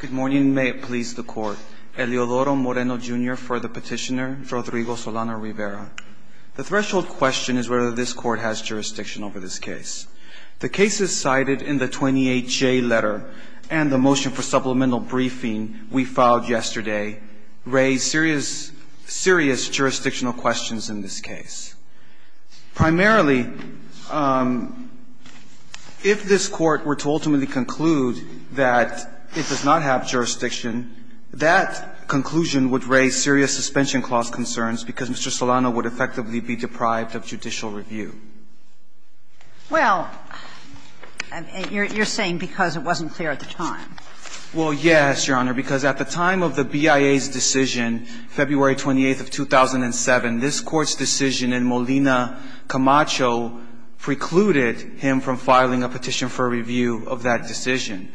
Good morning. May it please the Court. Eliodoro Moreno, Jr. for the Petitioner, Rodrigo Solano-Rivera. The threshold question is whether this Court has jurisdiction over this case. The cases cited in the 28J letter and the motion for supplemental briefing we filed yesterday raise serious, serious jurisdictional questions in this case. Primarily, if this Court were to ultimately conclude that it does not have jurisdiction, that conclusion would raise serious suspension clause concerns, because Mr. Solano would effectively be deprived of judicial review. Well, you're saying because it wasn't clear at the time. Well, yes, Your Honor, because at the time of the BIA's decision, February 28th of 2007, this Court's decision in Molina-Camacho precluded him from filing a petition for review of that decision.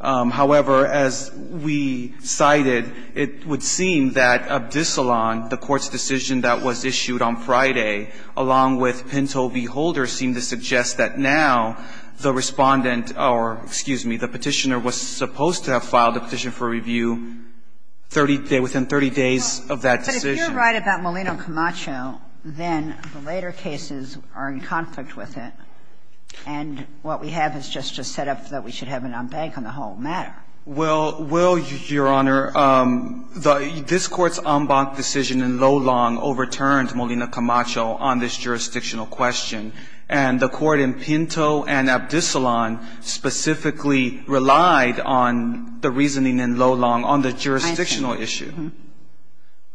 However, as we cited, it would seem that Abdicillan, the Court's decision that was issued on Friday, along with Pinto v. Holder, seemed to suggest that now the Respondent or, excuse me, the Petitioner was supposed to have filed a petition for review within 30 days of that decision. If you're right about Molina-Camacho, then the later cases are in conflict with it, and what we have is just a setup that we should have an en banc on the whole matter. Well, Your Honor, this Court's en banc decision in Lolon overturned Molina-Camacho on this jurisdictional question, and the Court in Pinto and Abdicillan specifically relied on the reasoning in Lolon on the jurisdictional issue.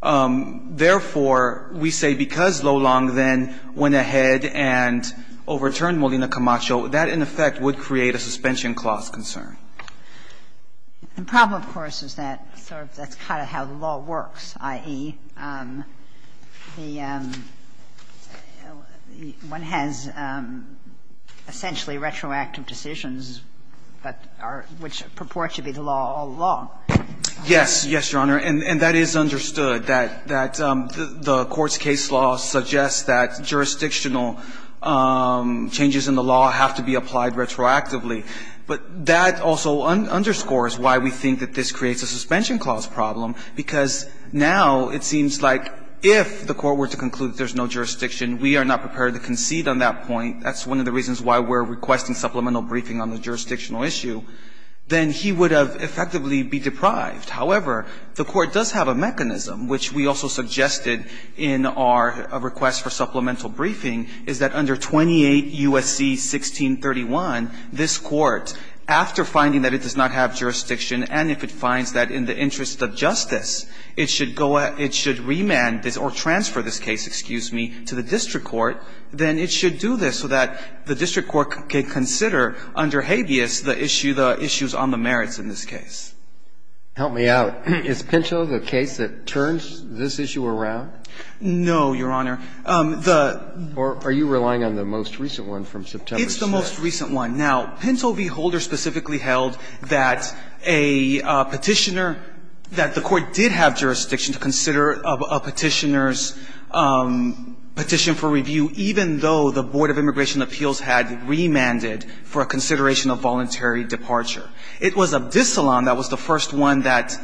Therefore, we say because Lolon then went ahead and overturned Molina-Camacho, that in effect would create a suspension clause concern. The problem, of course, is that sort of that's kind of how the law works, i.e., the one has essentially retroactive decisions that are – which purport to be the law all along. Yes. Yes, Your Honor. And that is understood, that the Court's case law suggests that jurisdictional changes in the law have to be applied retroactively. But that also underscores why we think that this creates a suspension clause problem, because now it seems like if the Court were to conclude that there's no jurisdiction, we are not prepared to concede on that point. That's one of the reasons why we're requesting supplemental briefing on the jurisdictional issue. Then he would have effectively be deprived. However, the Court does have a mechanism, which we also suggested in our request for supplemental briefing, is that under 28 U.S.C. 1631, this Court, after finding that it does not have jurisdiction, and if it finds that in the interest of justice it should go – it should remand this or transfer this case, excuse me, to the district court, then it should do this so that the district court can consider under habeas the issue, the issues on the merits in this case. Help me out. Is Pinto the case that turns this issue around? No, Your Honor. The – Or are you relying on the most recent one from September 6th? It's the most recent one. Now, Pinto v. Holder specifically held that a Petitioner, that the Court did have to review even though the Board of Immigration Appeals had remanded for a consideration of voluntary departure. It was Abdisalaam that was the first one that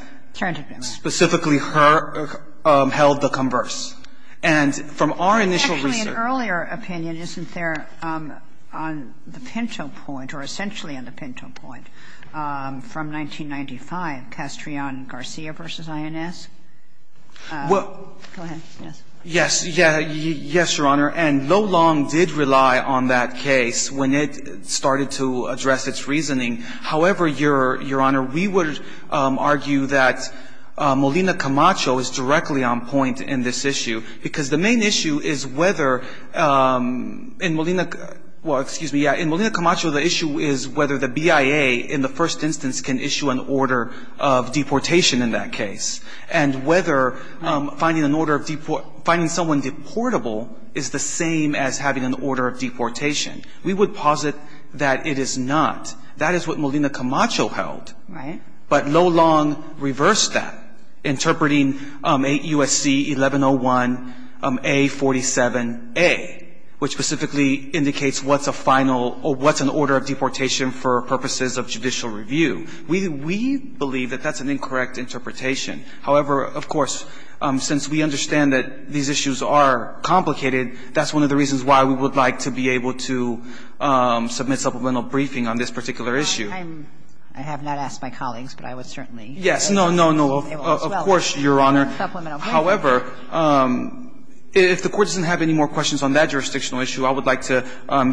specifically held the converse. And from our initial research – Actually, an earlier opinion, isn't there, on the Pinto point, or essentially on the Pinto point, from 1995, Castrillon-Garcia v. INS? Go ahead, yes. Yes. Yes, Your Honor. And Loh-Long did rely on that case when it started to address its reasoning. However, Your Honor, we would argue that Molina Camacho is directly on point in this issue, because the main issue is whether in Molina – well, excuse me, yeah. In Molina Camacho, the issue is whether the BIA, in the first instance, can issue an order of deportation in that case. And whether finding someone deportable is the same as having an order of deportation. We would posit that it is not. That is what Molina Camacho held. Right. But Loh-Long reversed that, interpreting 8 U.S.C. 1101 A. 47a, which specifically indicates what's a final – or what's an order of deportation for purposes of judicial review. We believe that that's an incorrect interpretation. However, of course, since we understand that these issues are complicated, that's one of the reasons why we would like to be able to submit supplemental briefing on this particular issue. I'm – I have not asked my colleagues, but I would certainly be able to as well. Yes, no, no, no, of course, Your Honor. However, if the Court doesn't have any more questions on that jurisdictional issue, I would like to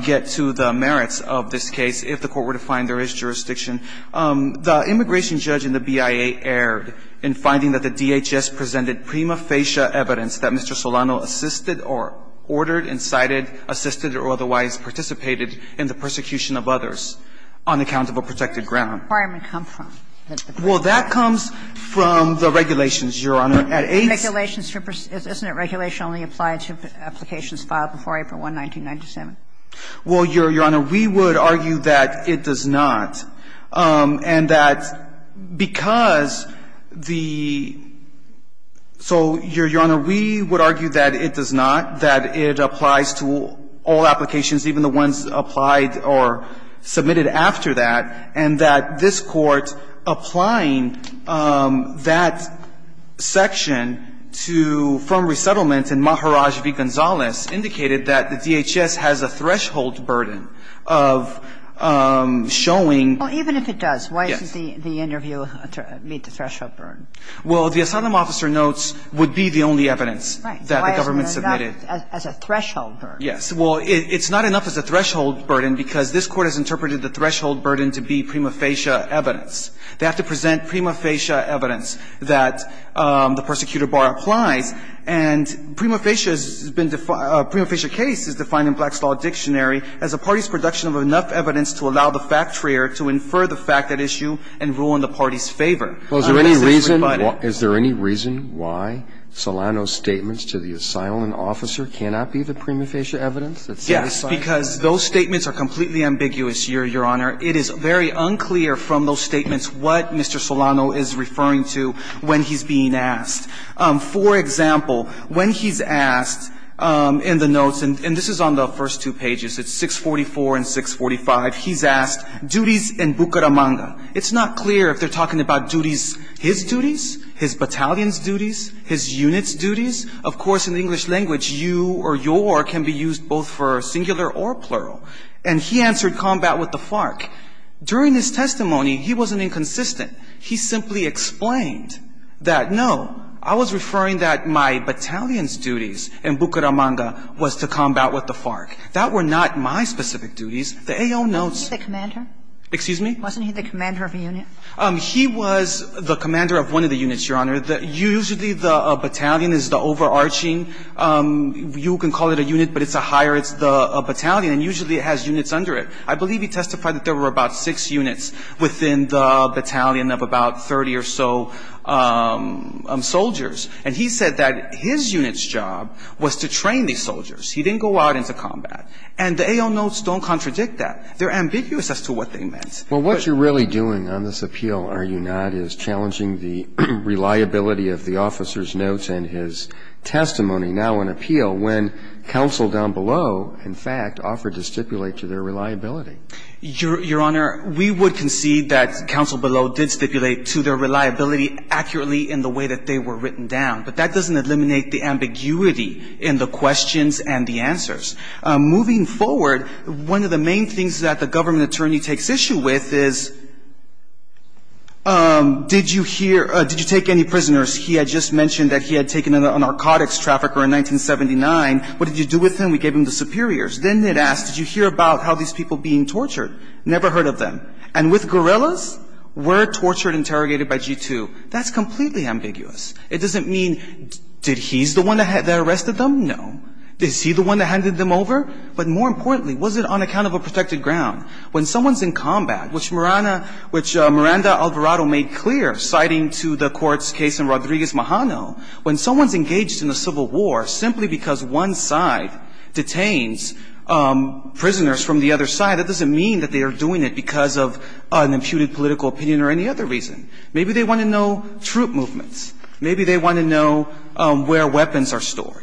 get to the merits of this case, if the Court were to find there is jurisdiction. The immigration judge in the BIA erred in finding that the DHS presented prima facie evidence that Mr. Solano assisted or ordered, incited, assisted, or otherwise participated in the persecution of others on account of a protected ground. Well, that comes from the regulations, Your Honor, at 8. Isn't it regulation only applied to applications filed before April 1, 1997? Well, Your Honor, we would argue that it does not. And that because the – so, Your Honor, we would argue that it does not, that it applies to all applications, even the ones applied or submitted after that, and that this Court applying that section to – from resettlement in Maharaj v. Gonzales indicated that the DHS has a threshold burden of showing – Well, even if it does, why doesn't the interview meet the threshold burden? Well, the asylum officer notes would be the only evidence that the government submitted. Right. Why isn't that a threshold burden? Yes. Well, it's not enough as a threshold burden because this Court has interpreted the threshold burden to be prima facie evidence. They have to present prima facie evidence that the persecutor bar applies, and prima facie has been – prima facie case is defined in Blackstall Dictionary as a party's production of enough evidence to allow the facturer to infer the fact at issue and rule in the party's favor. Well, is there any reason why Solano's statements to the asylum officer cannot be the prima facie evidence that's satisfied? Yes, because those statements are completely ambiguous, Your Honor. It is very unclear from those statements what Mr. Solano is referring to when he's being asked. For example, when he's asked in the notes, and this is on the first two pages, it's 644 and 645, he's asked, duties in Bucaramanga. It's not clear if they're talking about duties – his duties, his battalion's duties, his unit's duties. Of course, in the English language, you or your can be used both for singular or plural. And he answered combat with the FARC. During his testimony, he wasn't inconsistent. He simply explained that, no, I was referring that my battalion's duties in Bucaramanga was to combat with the FARC. That were not my specific duties. The AO notes – Wasn't he the commander? Excuse me? Wasn't he the commander of a unit? He was the commander of one of the units, Your Honor. Usually, the battalion is the overarching – you can call it a unit, but it's a higher – it's the battalion, and usually it has units under it. I believe he testified that there were about six units within the battalion of about 30 or so soldiers. And he said that his unit's job was to train these soldiers. He didn't go out into combat. And the AO notes don't contradict that. They're ambiguous as to what they meant. But – Well, what you're really doing on this appeal, are you not, is challenging the reliability of the officer's notes and his testimony now in appeal when counsel down below, in fact, offered to stipulate to their reliability? Your Honor, we would concede that counsel below did stipulate to their reliability accurately in the way that they were written down. But that doesn't eliminate the ambiguity in the questions and the answers. Moving forward, one of the main things that the government attorney takes issue with is, did you hear – did you take any prisoners? He had just mentioned that he had taken a narcotics trafficker in 1979. What did you do with him? We gave him the superiors. Then it asks, did you hear about how these people being tortured? Never heard of them. And with guerrillas, were tortured, interrogated by G2. That's completely ambiguous. It doesn't mean, did he's the one that arrested them? No. Is he the one that handed them over? But more importantly, was it on account of a protected ground? When someone's in combat, which Miranda – which Miranda Alvarado made clear, citing to the court's case in Rodriguez-Majano, when someone's engaged in a civil war simply because one side detains prisoners from the other side, that doesn't mean that they are doing it because of an imputed political opinion or any other reason. Maybe they want to know troop movements. Maybe they want to know where weapons are stored.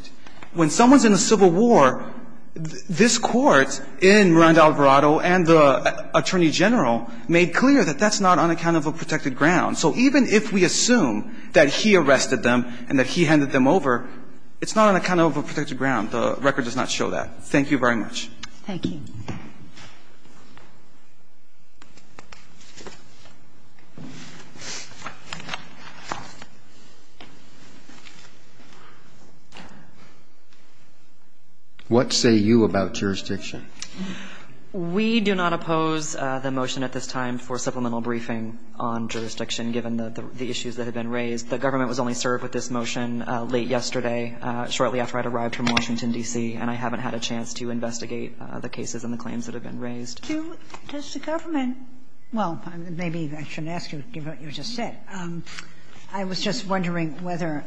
When someone's in a civil war, this court in Miranda Alvarado and the attorney general made clear that that's not on account of a protected ground. So even if we assume that he arrested them and that he handed them over, it's not on account of a protected ground. The record does not show that. Thank you very much. Thank you. What say you about jurisdiction? We do not oppose the motion at this time for supplemental briefing on jurisdiction given the issues that have been raised. The government was only served with this motion late yesterday, shortly after I'd arrived from Washington, D.C., and I haven't had a chance to investigate the cases and the claims that have been raised. Does the government – well, maybe I shouldn't ask you to give what you just said. I was just wondering whether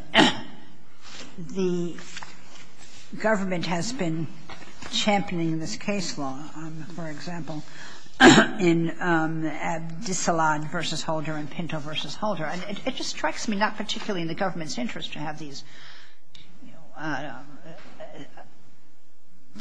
the government has been championing this case law, for example, in Abdisallad v. Holder and Pinto v. Holder. It just strikes me not particularly in the government's interest to have these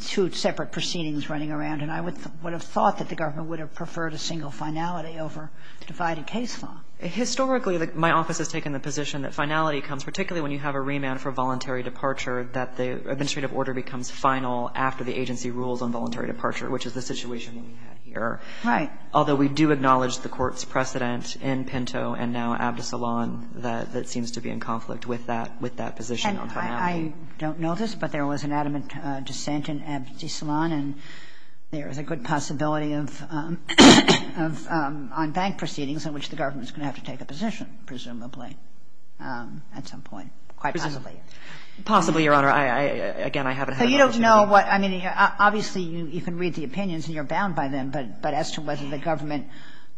two separate proceedings running around, and I would have thought that the government would have preferred a single finality over divided case law. Historically, my office has taken the position that finality comes particularly when you have a remand for voluntary departure, that the administrative order becomes final after the agency rules on voluntary departure, which is the situation we had here. Right. Although we do acknowledge the Court's precedent in Pinto and now Abdisallad that seems to be in conflict with that position on finality. And I don't know this, but there was an adamant dissent in Abdisallad, and there is a good possibility of on-bank proceedings in which the government is going to have to take a position, presumably, at some point, quite possibly. Possibly, Your Honor. Again, I haven't had a chance to do that. So you don't know what – I mean, obviously, you can read the opinions and you're going to find that the government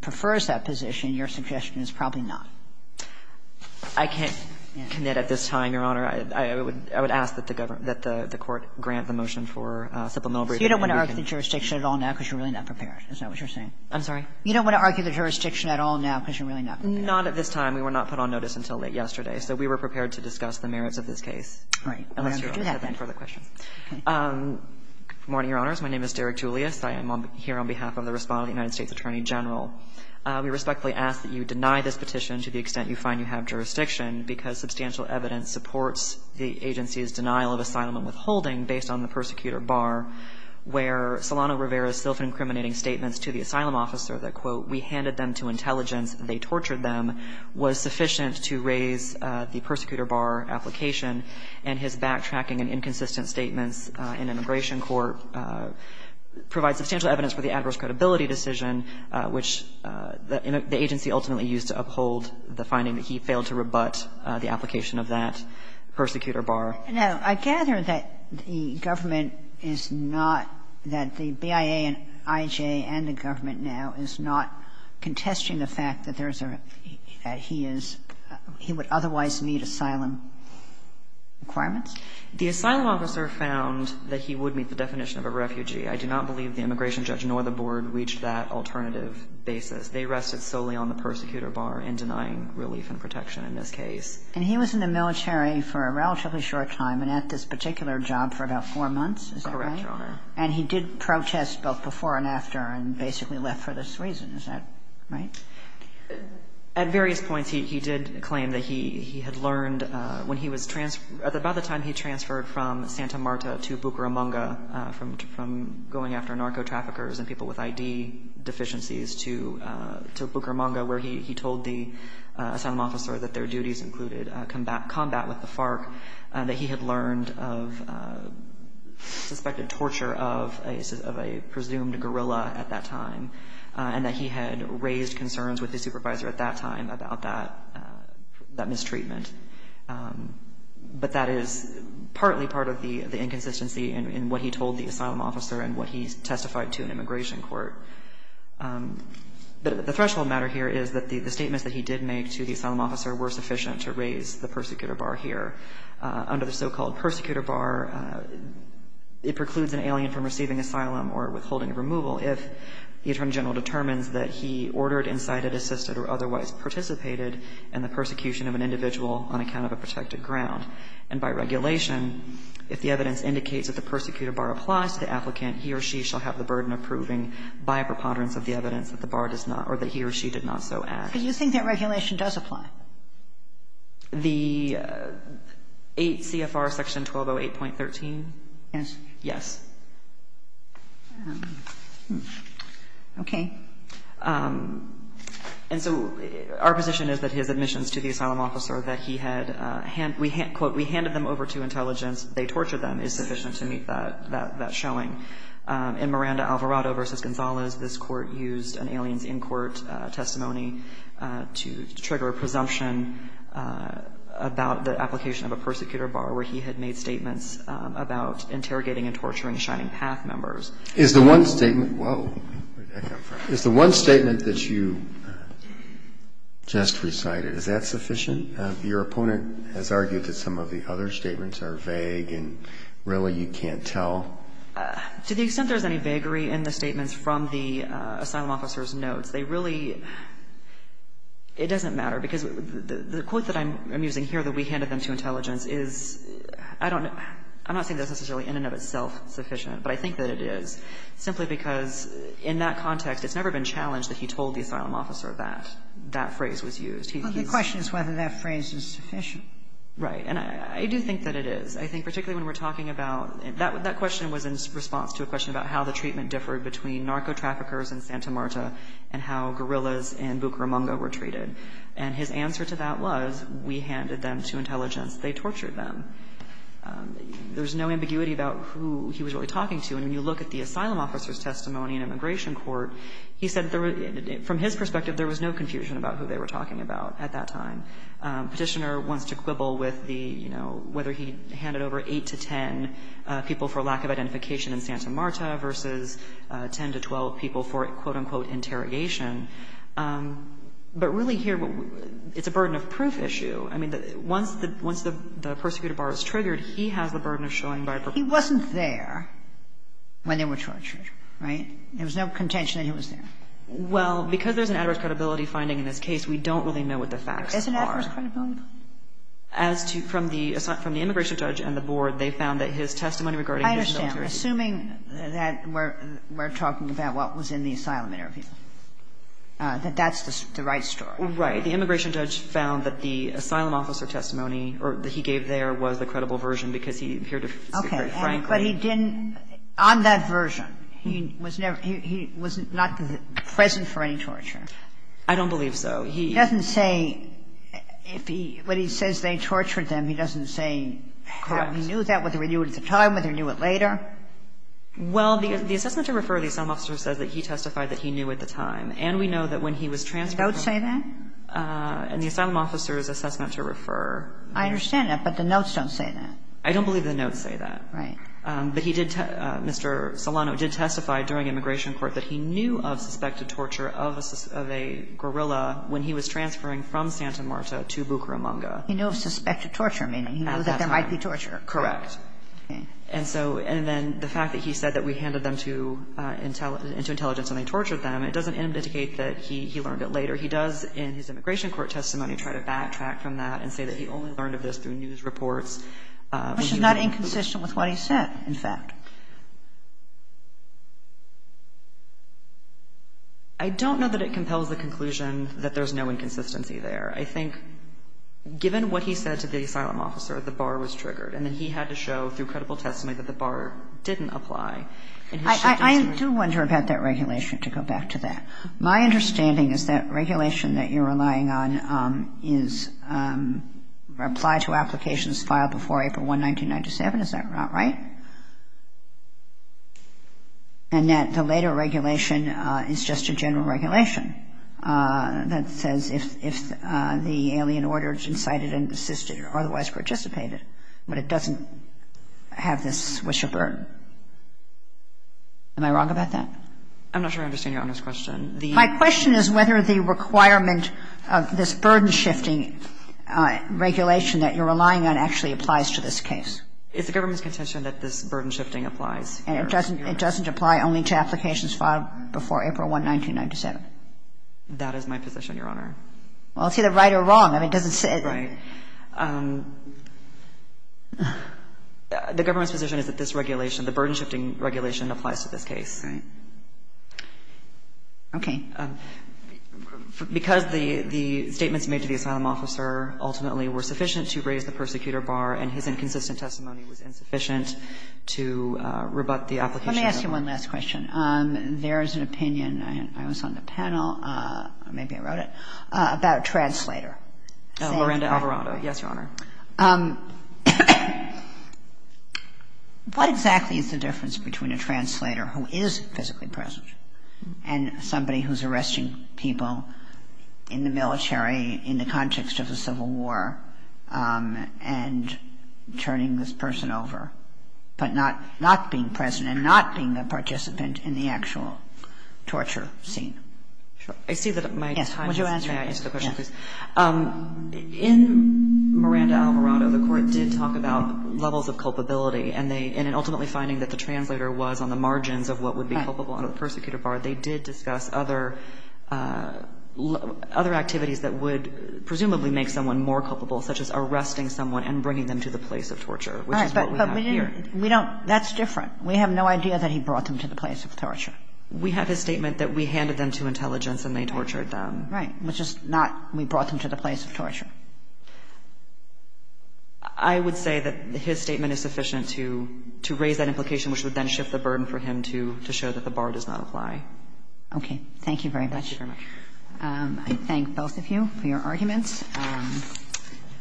prefers that position. Your suggestion is probably not. I can't commit at this time, Your Honor. I would ask that the government – that the Court grant the motion for supplemental briefing. So you don't want to argue the jurisdiction at all now because you're really not prepared? Is that what you're saying? I'm sorry? You don't want to argue the jurisdiction at all now because you're really not prepared? Not at this time. We were not put on notice until late yesterday. So we were prepared to discuss the merits of this case. Right. We're going to have to do that then. Unless you have any further questions. Okay. Good morning, Your Honors. My name is Derek Julius. I am here on behalf of the Respondent of the United States Attorney General. We respectfully ask that you deny this petition to the extent you find you have jurisdiction because substantial evidence supports the agency's denial of asylum and withholding based on the persecutor bar where Solano Rivera's self-incriminating statements to the asylum officer that, quote, we handed them to intelligence, they tortured them, was sufficient to raise the persecutor bar application and his backtracking and inconsistent statements in immigration court provide substantial evidence for the adverse credibility decision, which the agency ultimately used to uphold the finding that he failed to rebut the application of that persecutor bar. Now, I gather that the government is not, that the BIA and IJA and the government now is not contesting the fact that there's a, that he is, he would otherwise meet asylum requirements? The asylum officer found that he would meet the definition of a refugee. I do not believe the immigration judge nor the board reached that alternative basis. They rested solely on the persecutor bar in denying relief and protection in this case. And he was in the military for a relatively short time and at this particular job for about four months, is that right? Correct, Your Honor. And he did protest both before and after and basically left for this reason. Is that right? At various points, he did claim that he had learned when he was, by the time he transferred from Santa Marta to Bucaramanga from going after narco-traffickers and people with ID deficiencies to Bucaramanga, where he told the asylum officer that their duties included combat with the FARC, that he had learned of suspected torture of a presumed guerrilla at that time, and that he had raised concerns with his supervisor at that time about that mistreatment. But that is partly part of the inconsistency in what he told the asylum officer and what he testified to an immigration court. But the threshold matter here is that the statements that he did make to the asylum officer were sufficient to raise the persecutor bar here. Under the so-called persecutor bar, it precludes an alien from receiving asylum or from being able to receive asylum if the attorney general determines that he ordered, incited, assisted, or otherwise participated in the persecution of an individual on account of a protected ground. And by regulation, if the evidence indicates that the persecutor bar applies to the applicant, he or she shall have the burden of proving by a preponderance of the evidence that the bar does not or that he or she did not so act. Do you think that regulation does apply? The 8 CFR section 1208.13? Yes. Okay. And so our position is that his admissions to the asylum officer that he had, quote, we handed them over to intelligence, they tortured them, is sufficient to meet that showing. In Miranda Alvarado v. Gonzales, this court used an alien's in-court testimony to trigger a presumption about the application of a persecutor bar where he had made statements about interrogating an alien. And so I don't think there's any vagary in the statements from the asylum officer's notes. They really, it doesn't matter, because the quote that I'm using here, that we handed them to intelligence, is, I don't know, I'm not saying that's necessarily notes. But I think that it is, simply because in that context, it's never been challenged that he told the asylum officer that that phrase was used. He's used. But the question is whether that phrase is sufficient. Right. And I do think that it is. I think particularly when we're talking about that question was in response to a question about how the treatment differed between narco-traffickers and Santa Marta and how gorillas in Bucaramanga were treated. And his answer to that was, we handed them to intelligence, they tortured them. There's no ambiguity about who he was really talking to. And when you look at the asylum officer's testimony in immigration court, he said there were, from his perspective, there was no confusion about who they were talking about at that time. Petitioner wants to quibble with the, you know, whether he handed over 8 to 10 people for lack of identification in Santa Marta versus 10 to 12 people for, quote, unquote, interrogation. But really here, it's a burden of proof issue. I mean, once the persecutor bar is triggered, he has the burden of showing by a perpetrator. He wasn't there when they were tortured, right? There was no contention that he was there. Well, because there's an adverse credibility finding in this case, we don't really know what the facts are. There is an adverse credibility finding? As to the immigration judge and the board, they found that his testimony regarding his military duty. I understand. Assuming that we're talking about what was in the asylum interview, that that's the right story. Right. The immigration judge found that the asylum officer testimony, or that he gave there, was the credible version, because he appeared to say very frankly. Okay. But he didn't, on that version, he was never, he was not present for any torture? I don't believe so. He doesn't say if he, when he says they tortured them, he doesn't say how he knew that, whether he knew it at the time, whether he knew it later? Well, the assessment to refer to the asylum officer says that he testified that he knew at the time. And we know that when he was transferred from the asylum. And the asylum officer's assessment to refer. I understand that, but the notes don't say that. I don't believe the notes say that. Right. But he did, Mr. Solano did testify during immigration court that he knew of suspected torture of a guerrilla when he was transferring from Santa Marta to Bucaramanga. He knew of suspected torture, meaning he knew that there might be torture. Correct. Okay. And so, and then the fact that he said that we handed them to intelligence and they tortured them, it doesn't indicate that he learned it later. He does, in his immigration court testimony, try to backtrack from that and say that he only learned of this through news reports. Which is not inconsistent with what he said, in fact. I don't know that it compels the conclusion that there's no inconsistency there. I think, given what he said to the asylum officer, the bar was triggered. And then he had to show, through credible testimony, that the bar didn't apply. I do wonder about that regulation, to go back to that. My understanding is that regulation that you're relying on is applied to applications filed before April 1, 1997. Is that right? And that the later regulation is just a general regulation that says if the alien ordered, incited, and assisted, or otherwise participated. But it doesn't have this wish or burden. Am I wrong about that? I'm not sure I understand Your Honor's question. My question is whether the requirement of this burden shifting regulation that you're relying on actually applies to this case. It's the government's contention that this burden shifting applies. And it doesn't apply only to applications filed before April 1, 1997. That is my position, Your Honor. Well, it's either right or wrong. I mean, it doesn't say. Right. The government's position is that this regulation, the burden shifting regulation applies to this case. Okay. Because the statements made to the asylum officer ultimately were sufficient to raise the persecutor bar, and his inconsistent testimony was insufficient to rebut the application. Let me ask you one last question. There is an opinion, and I was on the panel, or maybe I wrote it, about a translator. Miranda Alvarado. Yes, Your Honor. What exactly is the difference between a translator who is physically present and somebody who's arresting people in the military in the context of the Civil War and turning this person over, but not being present and not being a participant in the actual torture scene? Sure. I see that my time is up, may I answer the question, please? Yes. In Miranda Alvarado, the Court did talk about levels of culpability, and they ultimately finding that the translator was on the margins of what would be culpable under the persecutor bar, they did discuss other activities that would presumably make someone more culpable, such as arresting someone and bringing them to the place of torture, which is what we have here. All right. But we don't – that's different. We have no idea that he brought them to the place of torture. We have his statement that we handed them to intelligence and they tortured them. Right. Which is not – we brought them to the place of torture. I would say that his statement is sufficient to raise that implication, which would then shift the burden for him to show that the bar does not apply. Okay. Thank you very much. Thank you very much. I thank both of you for your arguments.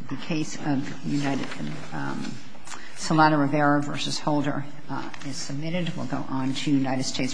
The case of Solano Rivera v. Holder is submitted. We'll go on to United States v. Quesada.